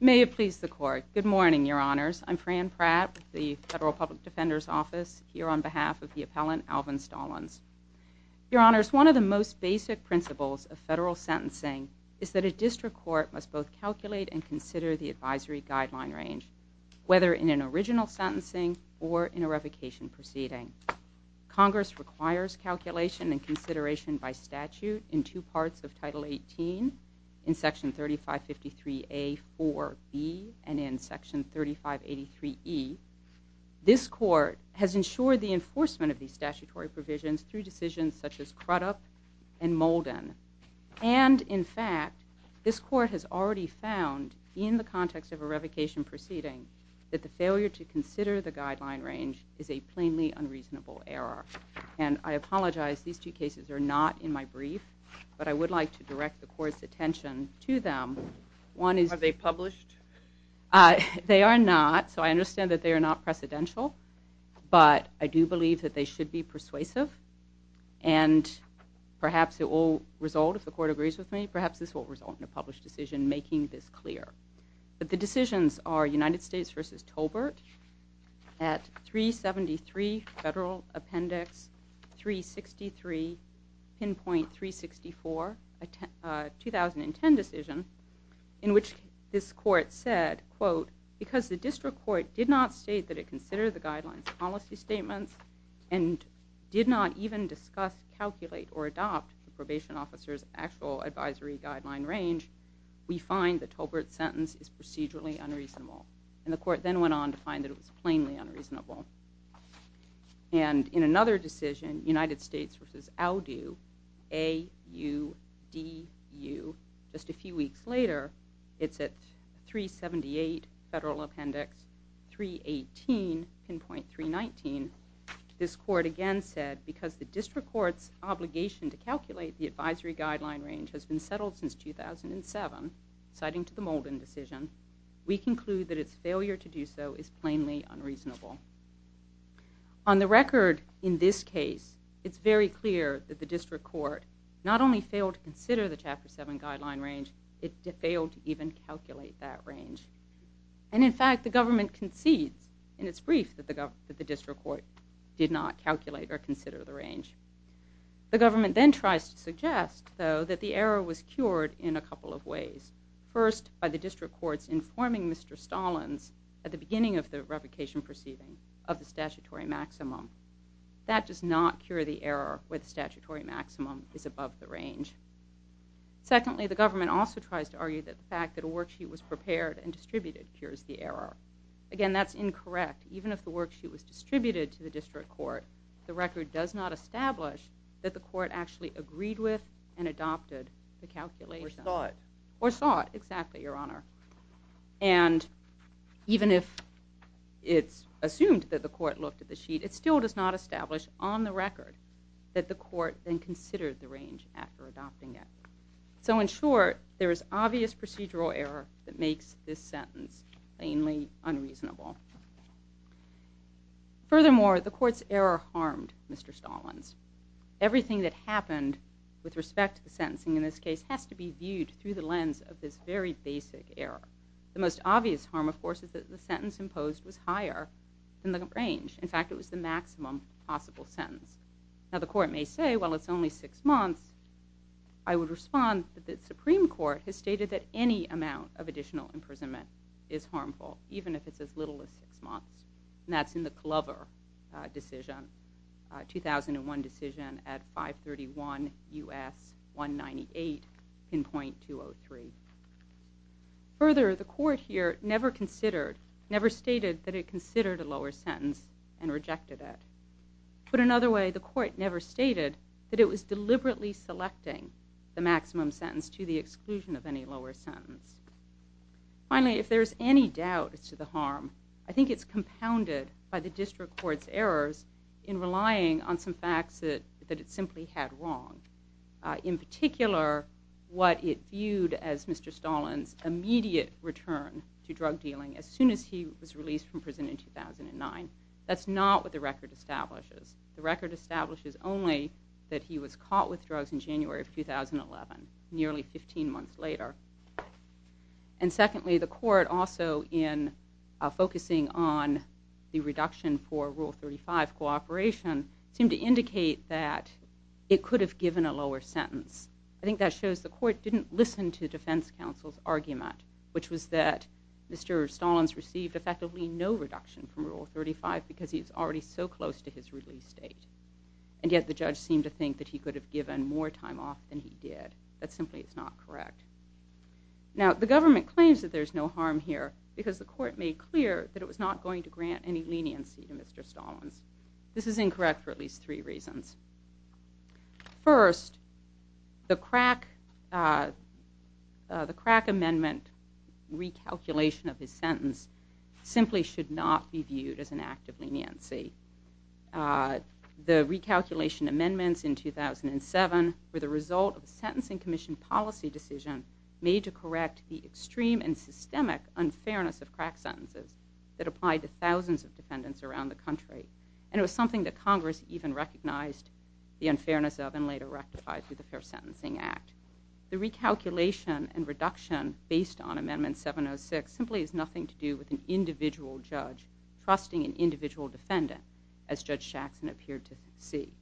May it please the Court. Good morning, Your Honors. I'm Fran Pratt with the Federal Public Defender's Office here on behalf of the appellant Alvin Stallins. Your Honors, one of the most basic principles of federal sentencing is that a district court must both calculate and consider the advisory guideline range, whether in an original sentencing or in a revocation proceeding. Congress requires calculation and consideration by statute in two parts of Title 18, in Section 3553A.4.B. and in Section 3583.E. This Court has ensured the enforcement of these statutory provisions through decisions such as Crudup and Molden. And, in fact, this Court has already found in the context of a revocation proceeding that the failure to consider the guideline range is a plainly unreasonable error. And I apologize, these two cases are not in my brief, but I would like to direct the Court's attention to them. Are they published? They are not, so I understand that they are not precedential, but I do believe that they should be persuasive. And perhaps it will result, if the Court agrees with me, perhaps this will result in a published decision making this clear. But the decisions are United States v. Tolbert at 373 Federal Appendix 363, Pinpoint 364, a 2010 decision in which this Court said, quote, because the District Court did not state that it considered the guidelines policy statements and did not even discuss, calculate, or adopt the probation officer's actual advisory guideline range, we find that Tolbert's sentence is procedurally unreasonable. And the Court then went on to find that it was plainly unreasonable. And in another decision, United States v. Audu, A-U-D-U, just a few weeks later, it's at 378 Federal Appendix 318, Pinpoint 319, this Court again said, because the District Court's obligation to calculate the advisory guideline range has been settled since 2007, citing to the Molden decision, we conclude that its failure to do so is plainly unreasonable. On the record, in this case, it's very clear that the District Court not only failed to consider the Chapter 7 guideline range, it failed to even calculate that range. And in fact, the government concedes in its brief that the District Court did not calculate or consider the range. The government then tries to suggest, though, that the error was cured in a couple of ways. First, by the District Court's informing Mr. Stallins, at the beginning of the revocation proceeding, of the statutory maximum. That does not cure the error where the statutory maximum is above the range. Secondly, the government also tries to argue that the fact that a worksheet was prepared and distributed cures the error. Again, that's incorrect. Even if the worksheet was distributed to the District Court, the record does not establish that the Court actually agreed with and adopted the calculation. Or sought. Or sought, exactly, Your Honor. And even if it's assumed that the Court looked at the sheet, it still does not establish on the record that the Court then considered the range after adopting it. So in short, there is obvious procedural error that makes this sentence plainly unreasonable. Furthermore, the Court's error harmed Mr. Stallins. Everything that happened with respect to the sentencing in this case has to be viewed through the lens of this very basic error. The most obvious harm, of course, is that the sentence imposed was higher than the range. In fact, it was the maximum possible sentence. Now, the Court may say, well, it's only six months. I would respond that the Supreme Court has stated that any amount of additional imprisonment is harmful, even if it's as little as six months. And that's in the Clover decision, 2001 decision at 531 U.S. 198 in .203. Further, the Court here never considered, never stated that it considered a lower sentence and rejected it. Put another way, the Court never stated that it was deliberately selecting the maximum sentence to the exclusion of any lower sentence. Finally, if there's any doubt as to the harm, I think it's compounded by the District Court's errors in relying on some facts that it simply had wrong. In particular, what it viewed as Mr. Stallins' immediate return to drug dealing as soon as he was released from prison in 2009. That's not what the record establishes. The record establishes only that he was caught with drugs in January of 2011, nearly 15 months later. And secondly, the Court, also in focusing on the reduction for Rule 35 cooperation, seemed to indicate that it could have given a lower sentence. I think that shows the Court didn't listen to defense counsel's argument, which was that Mr. Stallins received effectively no reduction from Rule 35 because he was already so close to his release date. And yet the judge seemed to think that he could have given more time off than he did. That simply is not correct. Now, the government claims that there's no harm here because the Court made clear that it was not going to grant any leniency to Mr. Stallins. This is incorrect for at least three reasons. First, the crack amendment recalculation of his sentence simply should not be viewed as an act of leniency. The recalculation amendments in 2007 were the result of a Sentencing Commission policy decision made to correct the extreme and systemic unfairness of crack sentences that applied to thousands of defendants around the country. And it was something that Congress even recognized the unfairness of and later rectified through the Fair Sentencing Act. The recalculation and reduction based on Amendment 706 simply has nothing to do with an individual judge trusting an individual defendant, as Judge Shaxson appeared to see.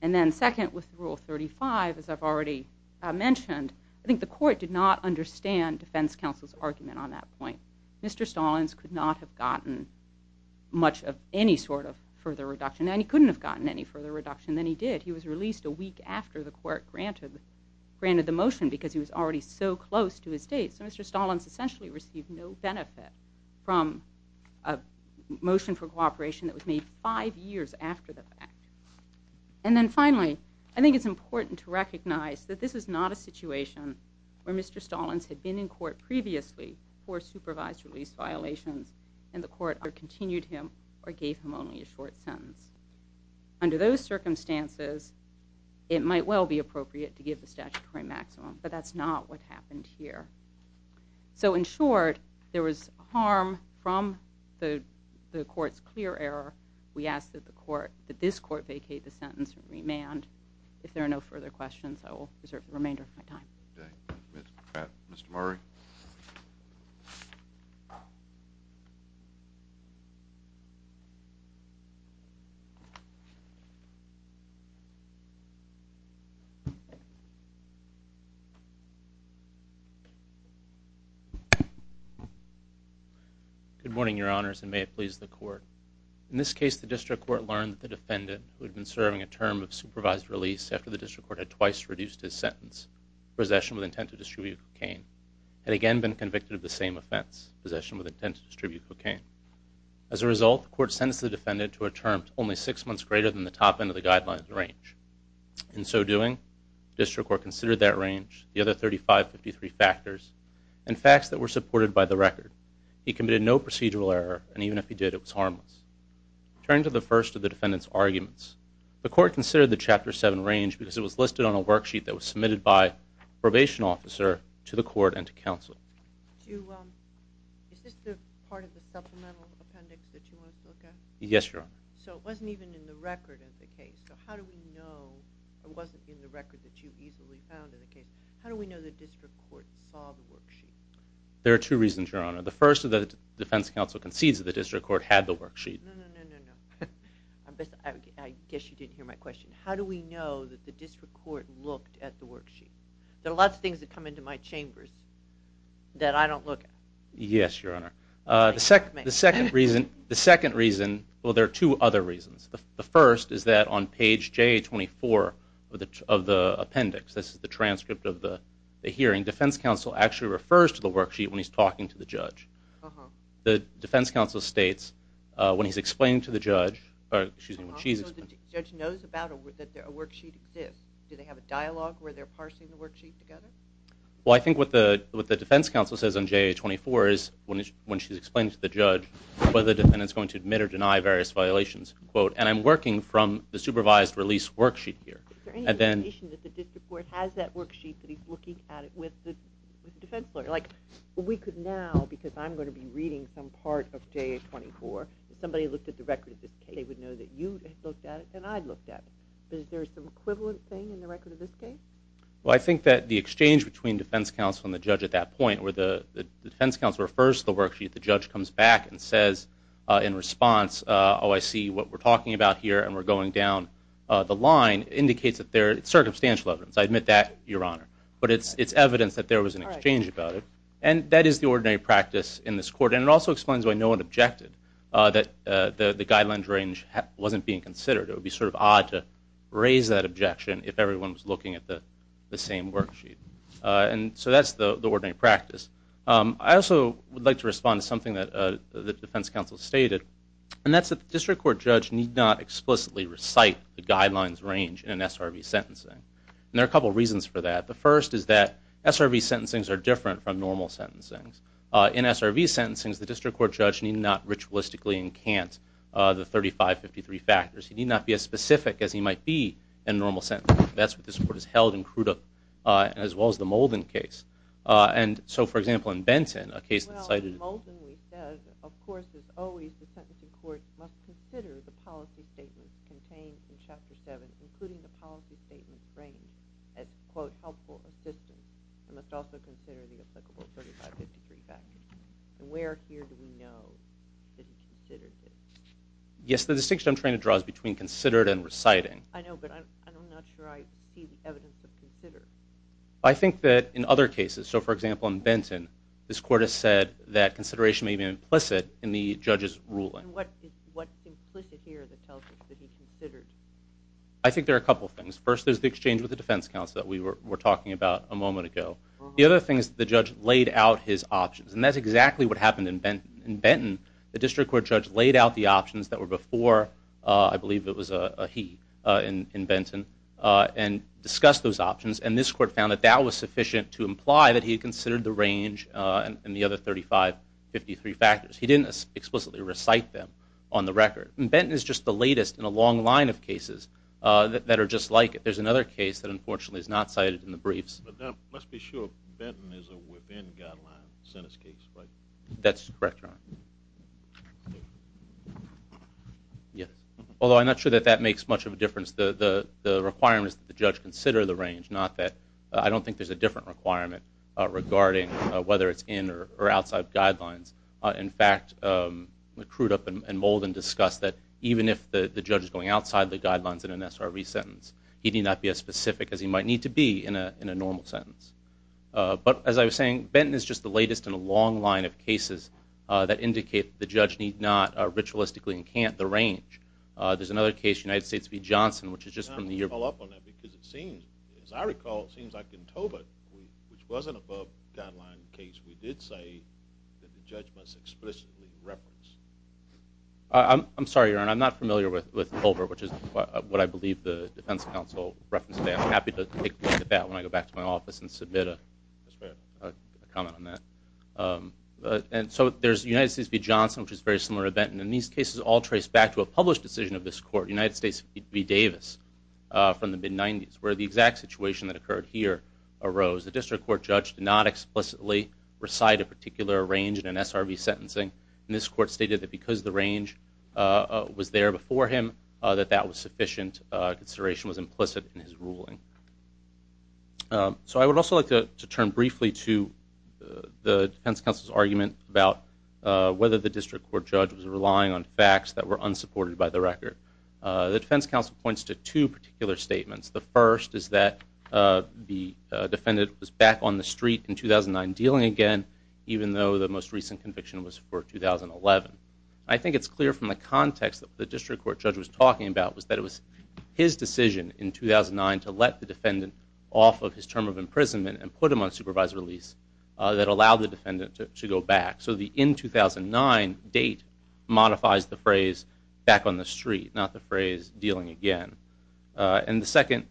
And then second, with Rule 35, as I've already mentioned, I think the Court did not understand defense counsel's argument on that point. Mr. Stallins could not have gotten much of any sort of further reduction. And he couldn't have gotten any further reduction than he did. He was released a week after the Court granted the motion because he was already so close to his date. So Mr. Stallins essentially received no benefit from a motion for cooperation that was made five years after the fact. And then finally, I think it's important to recognize that this is not a situation where Mr. Stallins had been in court previously for supervised release violations and the Court either continued him or gave him only a short sentence. Under those circumstances, it might well be appropriate to give the statutory maximum. But that's not what happened here. So in short, there was harm from the Court's clear error. We ask that this Court vacate the sentence and remand. If there are no further questions, I will reserve the remainder of my time. Mr. Murray. Good morning, Your Honors, and may it please the Court. In this case, the District Court learned that the defendant, who had been serving a term of supervised release after the District Court had twice reduced his sentence, possession with intent to distribute cocaine, had again been convicted of the same offense, possession with intent to distribute cocaine. As a result, the Court sentenced the defendant to a term only six months greater than the top end of the guidelines range. In so doing, the District Court considered that range, the other 3553 factors, and facts that were supported by the record. He committed no procedural error, and even if he did, it was harmless. Turning to the first of the defendant's arguments, the Court considered the Chapter 7 range because it was listed on a worksheet that was submitted by a probation officer to the Court and to counsel. There are two reasons, Your Honor. The first is that the Defense Counsel concedes that the District Court had the worksheet. I guess you didn't hear my question. How do we know that the District Court looked at the worksheet? There are lots of things that come into my chambers that I don't look at. Yes, Your Honor. The second reason, well, there are two other reasons. The first is that on page J24 of the appendix, this is the transcript of the hearing, Defense Counsel actually refers to the worksheet when he's talking to the judge. The Defense Counsel states when he's explaining to the judge, or excuse me, when she's explaining. So the judge knows about it, that a worksheet exists. Do they have a dialogue where they're parsing the worksheet together? Well, I think what the Defense Counsel says on J24 is when she's explaining to the judge whether the defendant's going to admit or deny various violations, and I'm working from the supervised release worksheet here. Is there any indication that the District Court has that worksheet, that he's looking at it with the defense lawyer? Like we could now, because I'm going to be reading some part of J24, if somebody looked at the record of this case, they would know that you looked at it and I looked at it. But is there some equivalent thing in the record of this case? Well, I think that the exchange between Defense Counsel and the judge at that point where the Defense Counsel refers to the worksheet, the judge comes back and says in response, oh, I see what we're talking about here and we're going down the line, indicates that there is circumstantial evidence. I admit that, Your Honor. But it's evidence that there was an exchange about it. And that is the ordinary practice in this court, and it also explains why no one objected that the guidelines range wasn't being considered. It would be sort of odd to raise that objection if everyone was looking at the same worksheet. And so that's the ordinary practice. I also would like to respond to something that the Defense Counsel stated, and that's that the District Court judge need not explicitly recite the guidelines range in SRV sentencing. And there are a couple of reasons for that. The first is that SRV sentencings are different from normal sentencings. In SRV sentencings, the District Court judge need not ritualistically encant the 3553 factors. He need not be as specific as he might be in normal sentencing. That's what this Court has held in Crudup as well as the Molden case. And so, for example, in Benton, a case that cited- Well, in Molden we said, of course, as always, the sentencing court must consider the policy statements contained in Chapter 7, including the policy statements framed as, quote, helpful assistance, and must also consider the applicable 3553 factors. And where here do we know that he considered this? Yes, the distinction I'm trying to draw is between considered and reciting. I know, but I'm not sure I see the evidence of considered. I think that in other cases, so, for example, in Benton, this Court has said that consideration may be implicit in the judge's ruling. And what's implicit here that tells us that he considered? I think there are a couple things. First, there's the exchange with the defense counsel that we were talking about a moment ago. The other thing is the judge laid out his options, and that's exactly what happened in Benton. The District Court judge laid out the options that were before, I believe it was a he in Benton, and discussed those options, and this Court found that that was sufficient to imply that he considered the range and the other 3553 factors. He didn't explicitly recite them on the record. And Benton is just the latest in a long line of cases that are just like it. There's another case that, unfortunately, is not cited in the briefs. Let's be sure Benton is a within-guideline sentence case, right? That's correct, Your Honor. Although I'm not sure that that makes much of a difference. The requirement is that the judge consider the range, not that I don't think there's a different requirement regarding whether it's in or outside guidelines. In fact, Crudup and Molden discussed that even if the judge is going outside the guidelines in an SRE sentence, he need not be as specific as he might need to be in a normal sentence. But as I was saying, Benton is just the latest in a long line of cases that indicate the judge need not ritualistically encamp the range. There's another case, United States v. Johnson, which is just from the year before. I'm going to call up on that because it seems, as I recall, it seems like in Tobit, which was an above-guideline case, we did say that the judge must explicitly reference. I'm sorry, Your Honor. I'm not familiar with Culver, which is what I believe the defense counsel referenced today. I'm happy to take a look at that when I go back to my office and submit a comment on that. So there's United States v. Johnson, which is a very similar event, and these cases all trace back to a published decision of this court, United States v. Davis, from the mid-'90s, where the exact situation that occurred here arose. The district court judge did not explicitly recite a particular range in an SRV sentencing, and this court stated that because the range was there before him, that that was sufficient. Consideration was implicit in his ruling. So I would also like to turn briefly to the defense counsel's argument about whether the district court judge was relying on facts that were unsupported by the record. The defense counsel points to two particular statements. The first is that the defendant was back on the street in 2009 dealing again, even though the most recent conviction was for 2011. I think it's clear from the context that the district court judge was talking about was that it was his decision in 2009 to let the defendant off of his term of imprisonment and put him on supervised release that allowed the defendant to go back. So the in 2009 date modifies the phrase back on the street, not the phrase dealing again. And the second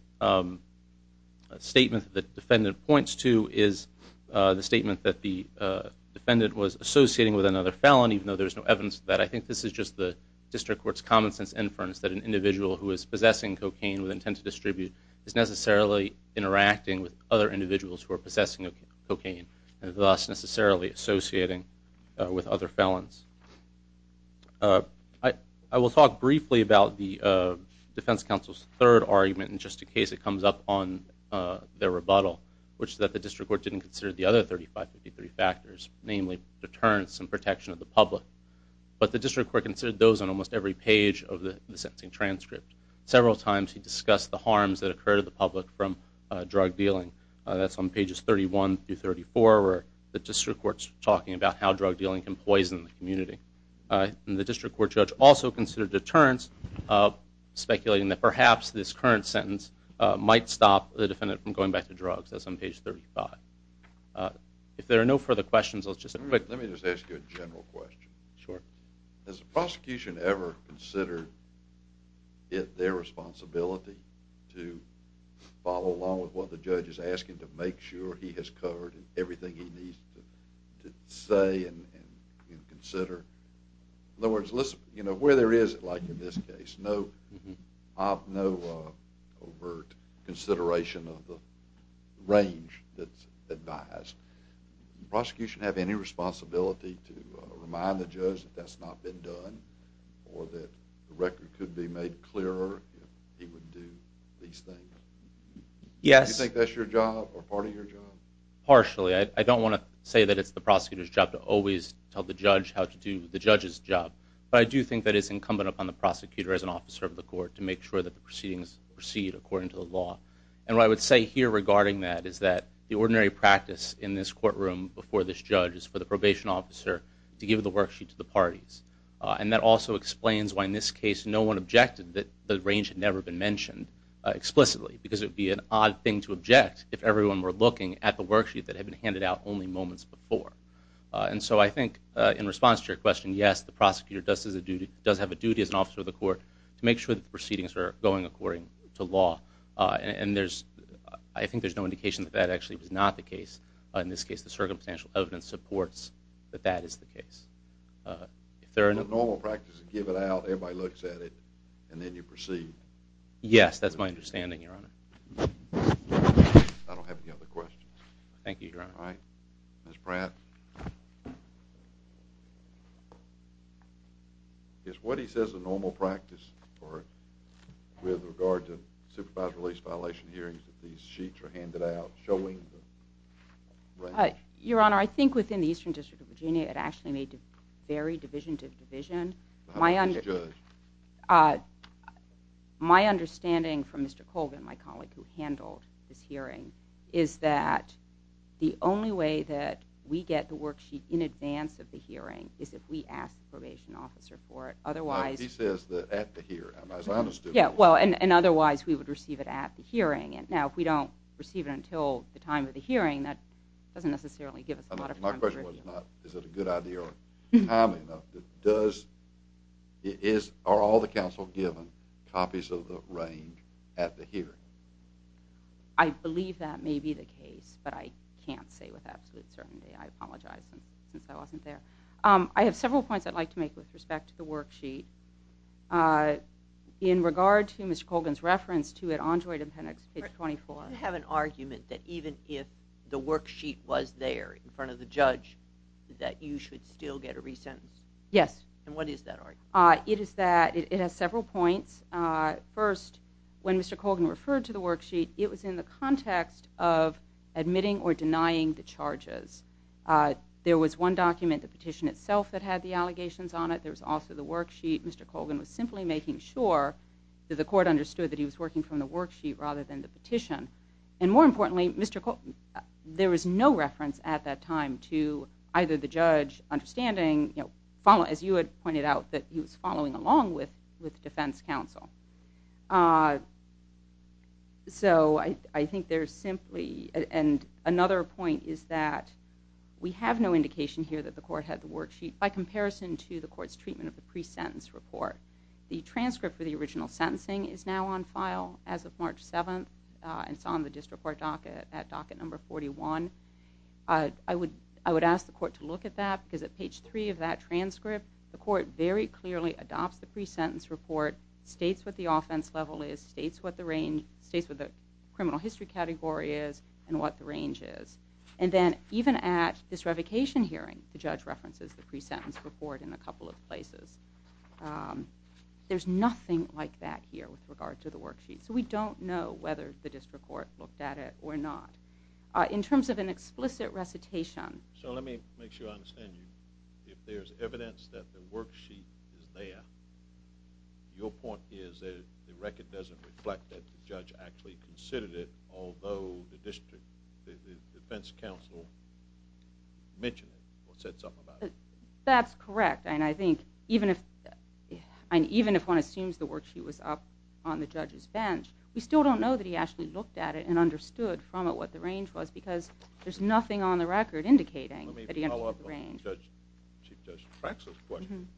statement that the defendant points to is the statement that the defendant was associating with another felon, even though there's no evidence of that. I think this is just the district court's common-sense inference that an individual who is possessing cocaine with intent to distribute is necessarily interacting with other individuals who are possessing cocaine, and thus necessarily associating with other felons. I will talk briefly about the defense counsel's third argument, in just in case it comes up on their rebuttal, which is that the district court didn't consider the other 3553 factors, namely deterrence and protection of the public. But the district court considered those on almost every page of the sentencing transcript. Several times he discussed the harms that occurred to the public from drug dealing. That's on pages 31 through 34, where the district court's talking about how drug dealing can poison the community. And the district court judge also considered deterrence, speculating that perhaps this current sentence might stop the defendant from going back to drugs. That's on page 35. If there are no further questions, I'll just... Let me just ask you a general question. Sure. Has the prosecution ever considered it their responsibility to follow along with what the judge is asking to make sure he has covered everything he needs to say and consider? In other words, where there is, like in this case, no overt consideration of the range that's advised. Does the prosecution have any responsibility to remind the judge that that's not been done or that the record could be made clearer if he would do these things? Yes. Do you think that's your job or part of your job? Partially. I don't want to say that it's the prosecutor's job to always tell the judge how to do the judge's job. But I do think that it's incumbent upon the prosecutor as an officer of the court to make sure that the proceedings proceed according to the law. And what I would say here regarding that is that the ordinary practice in this courtroom before this judge is for the probation officer to give the worksheet to the parties. And that also explains why in this case no one objected that the range had never been mentioned explicitly because it would be an odd thing to object if everyone were looking at the worksheet that had been handed out only moments before. And so I think in response to your question, yes, the prosecutor does have a duty as an officer of the court to make sure that the proceedings are going according to law and I think there's no indication that that actually was not the case. In this case, the circumstantial evidence supports that that is the case. So the normal practice is give it out, everybody looks at it, and then you proceed? Yes, that's my understanding, Your Honor. I don't have any other questions. Thank you, Your Honor. All right. Ms. Pratt? Is what he says a normal practice with regard to supervised release violation hearings that these sheets are handed out showing the range? Your Honor, I think within the Eastern District of Virginia it actually may vary division to division. How about this judge? My understanding from Mr. Colvin, my colleague who handled this hearing, is that the only way that we get the worksheet in advance of the hearing is if we ask the probation officer for it. He says that at the hearing, as I understood it. Yeah, well, and otherwise we would receive it at the hearing. Now, if we don't receive it until the time of the hearing, that doesn't necessarily give us a lot of time. My question was not is it a good idea or timely enough. Are all the counsel given copies of the range at the hearing? I believe that may be the case, but I can't say with absolute certainty. I apologize since I wasn't there. I have several points I'd like to make with respect to the worksheet. In regard to Mr. Colvin's reference to it, on Droid and Penix, page 24. You have an argument that even if the worksheet was there in front of the judge that you should still get a re-sentence? Yes. And what is that argument? It is that it has several points. First, when Mr. Colvin referred to the worksheet, it was in the context of admitting or denying the charges. There was one document, the petition itself, that had the allegations on it. There was also the worksheet. Mr. Colvin was simply making sure that the court understood that he was working from the worksheet rather than the petition. And more importantly, there was no reference at that time to either the judge understanding, as you had pointed out, that he was following along with defense counsel. So I think there's simply another point is that we have no indication here that the court had the worksheet by comparison to the court's treatment of the pre-sentence report. The transcript for the original sentencing is now on file as of March 7th and it's on the district court docket at docket number 41. I would ask the court to look at that because at page 3 of that transcript, the court very clearly adopts the pre-sentence report, states what the offense level is, states what the criminal history category is, and what the range is. And then even at this revocation hearing, the judge references the pre-sentence report in a couple of places. There's nothing like that here with regard to the worksheet. So we don't know whether the district court looked at it or not. In terms of an explicit recitation... So let me make sure I understand you. If there's evidence that the worksheet is there, your point is that the record doesn't reflect that the judge actually considered it, although the defense counsel mentioned it or said something about it. That's correct. And I think even if one assumes the worksheet was up on the judge's bench, we still don't know that he actually looked at it and understood from it what the range was because there's nothing on the record indicating that he understood the range. Let me follow up on Chief Judge Traxler's question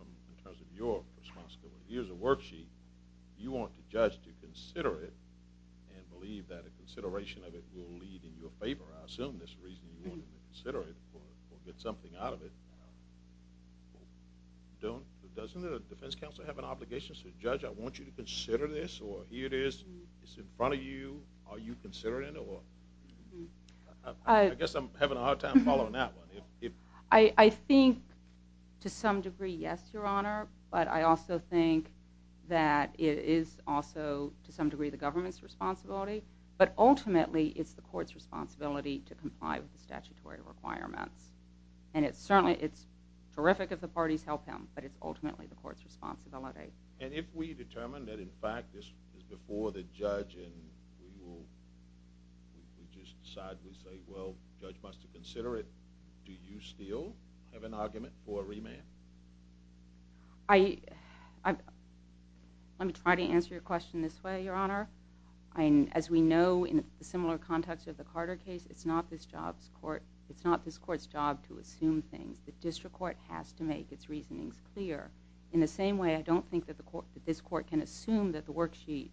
in terms of your responsibility. Here's a worksheet. You want the judge to consider it and believe that a consideration of it will lead in your favor. I assume that's the reason you wanted to consider it or get something out of it. Doesn't the defense counsel have an obligation to say, Judge, I want you to consider this or here it is, it's in front of you, are you considering it? I guess I'm having a hard time following that one. I think to some degree, yes, Your Honor, but I also think that it is also to some degree the government's responsibility, but ultimately it's the court's responsibility to comply with the statutory requirements. And it's terrific if the parties help him, but it's ultimately the court's responsibility. And if we determine that, in fact, this is before the judge and we just decide, we say, well, the judge must consider it, do you still have an argument for a remand? Let me try to answer your question this way, Your Honor. As we know in the similar context of the Carter case, it's not this court's job to assume things. The district court has to make its reasonings clear. In the same way, I don't think that this court can assume that the worksheet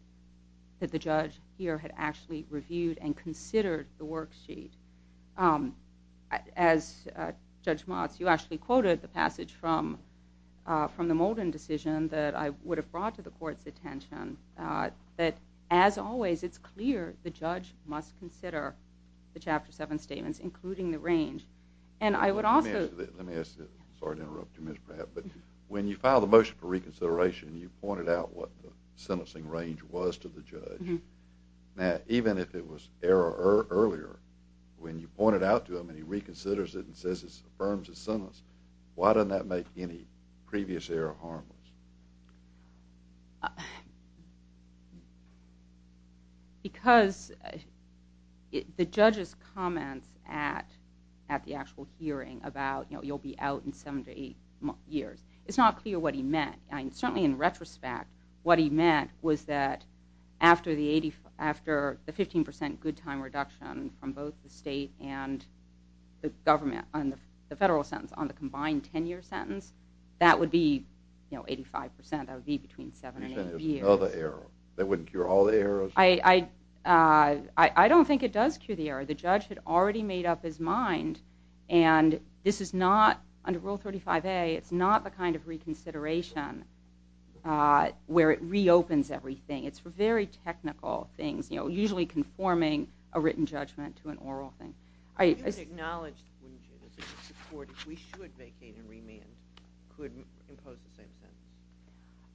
that the judge here had actually reviewed and considered the worksheet. As Judge Motz, you actually quoted the passage from the Molden decision that I would have brought to the court's attention, that as always it's clear the judge must consider the Chapter 7 statements, including the range. Let me ask you this. Sorry to interrupt you, Ms. Pratt. But when you filed a motion for reconsideration and you pointed out what the sentencing range was to the judge, now even if it was error earlier, when you point it out to him and he reconsiders it and says it affirms his sentence, why doesn't that make any previous error harmless? Because the judge's comments at the actual hearing about, you know, you'll be out in seven to eight years, it's not clear what he meant. Certainly in retrospect, what he meant was that after the 15% good time reduction from both the state and the federal sentence on the combined 10-year sentence, that would be, you know, 85%. That would be between seven and eight years. Another error. That wouldn't cure all the errors? I don't think it does cure the error. The judge had already made up his mind. And this is not, under Rule 35A, it's not the kind of reconsideration where it reopens everything. It's very technical things, you know, usually conforming a written judgment to an oral thing. You would acknowledge, wouldn't you, if we should vacate and remand, could impose the same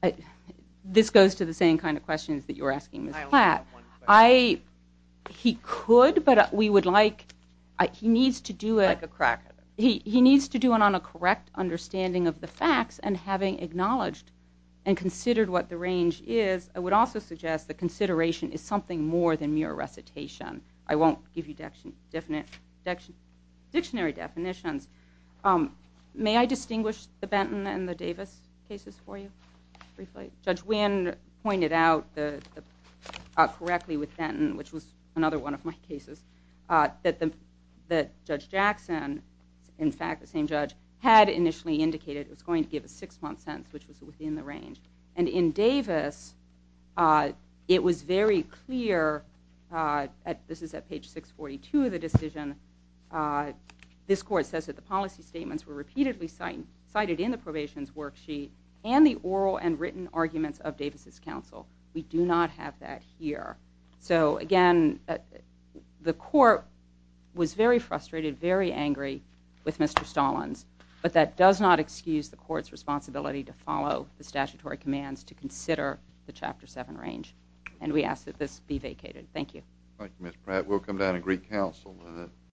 sentence? This goes to the same kind of questions that you were asking Ms. Platt. I only have one question. He could, but we would like, he needs to do it. Like a crackhead. He needs to do it on a correct understanding of the facts and having acknowledged and considered what the range is, I would also suggest that consideration is something more than mere recitation. I won't give you dictionary definitions. May I distinguish the Benton and the Davis cases for you? Judge Wynn pointed out correctly with Benton, which was another one of my cases, that Judge Jackson, in fact the same judge, had initially indicated it was going to give a six-month sentence, which was within the range. And in Davis, it was very clear, this is at page 642 of the decision, this court says that the policy statements were repeatedly cited in the probation's worksheet and the oral and written arguments of Davis' counsel. We do not have that here. So, again, the court was very frustrated, very angry with Mr. Stallins, but that does not excuse the court's responsibility to follow the statutory commands to consider the Chapter 7 range, and we ask that this be vacated. Thank you. Thank you, Ms. Pratt. We'll come down and greet counsel.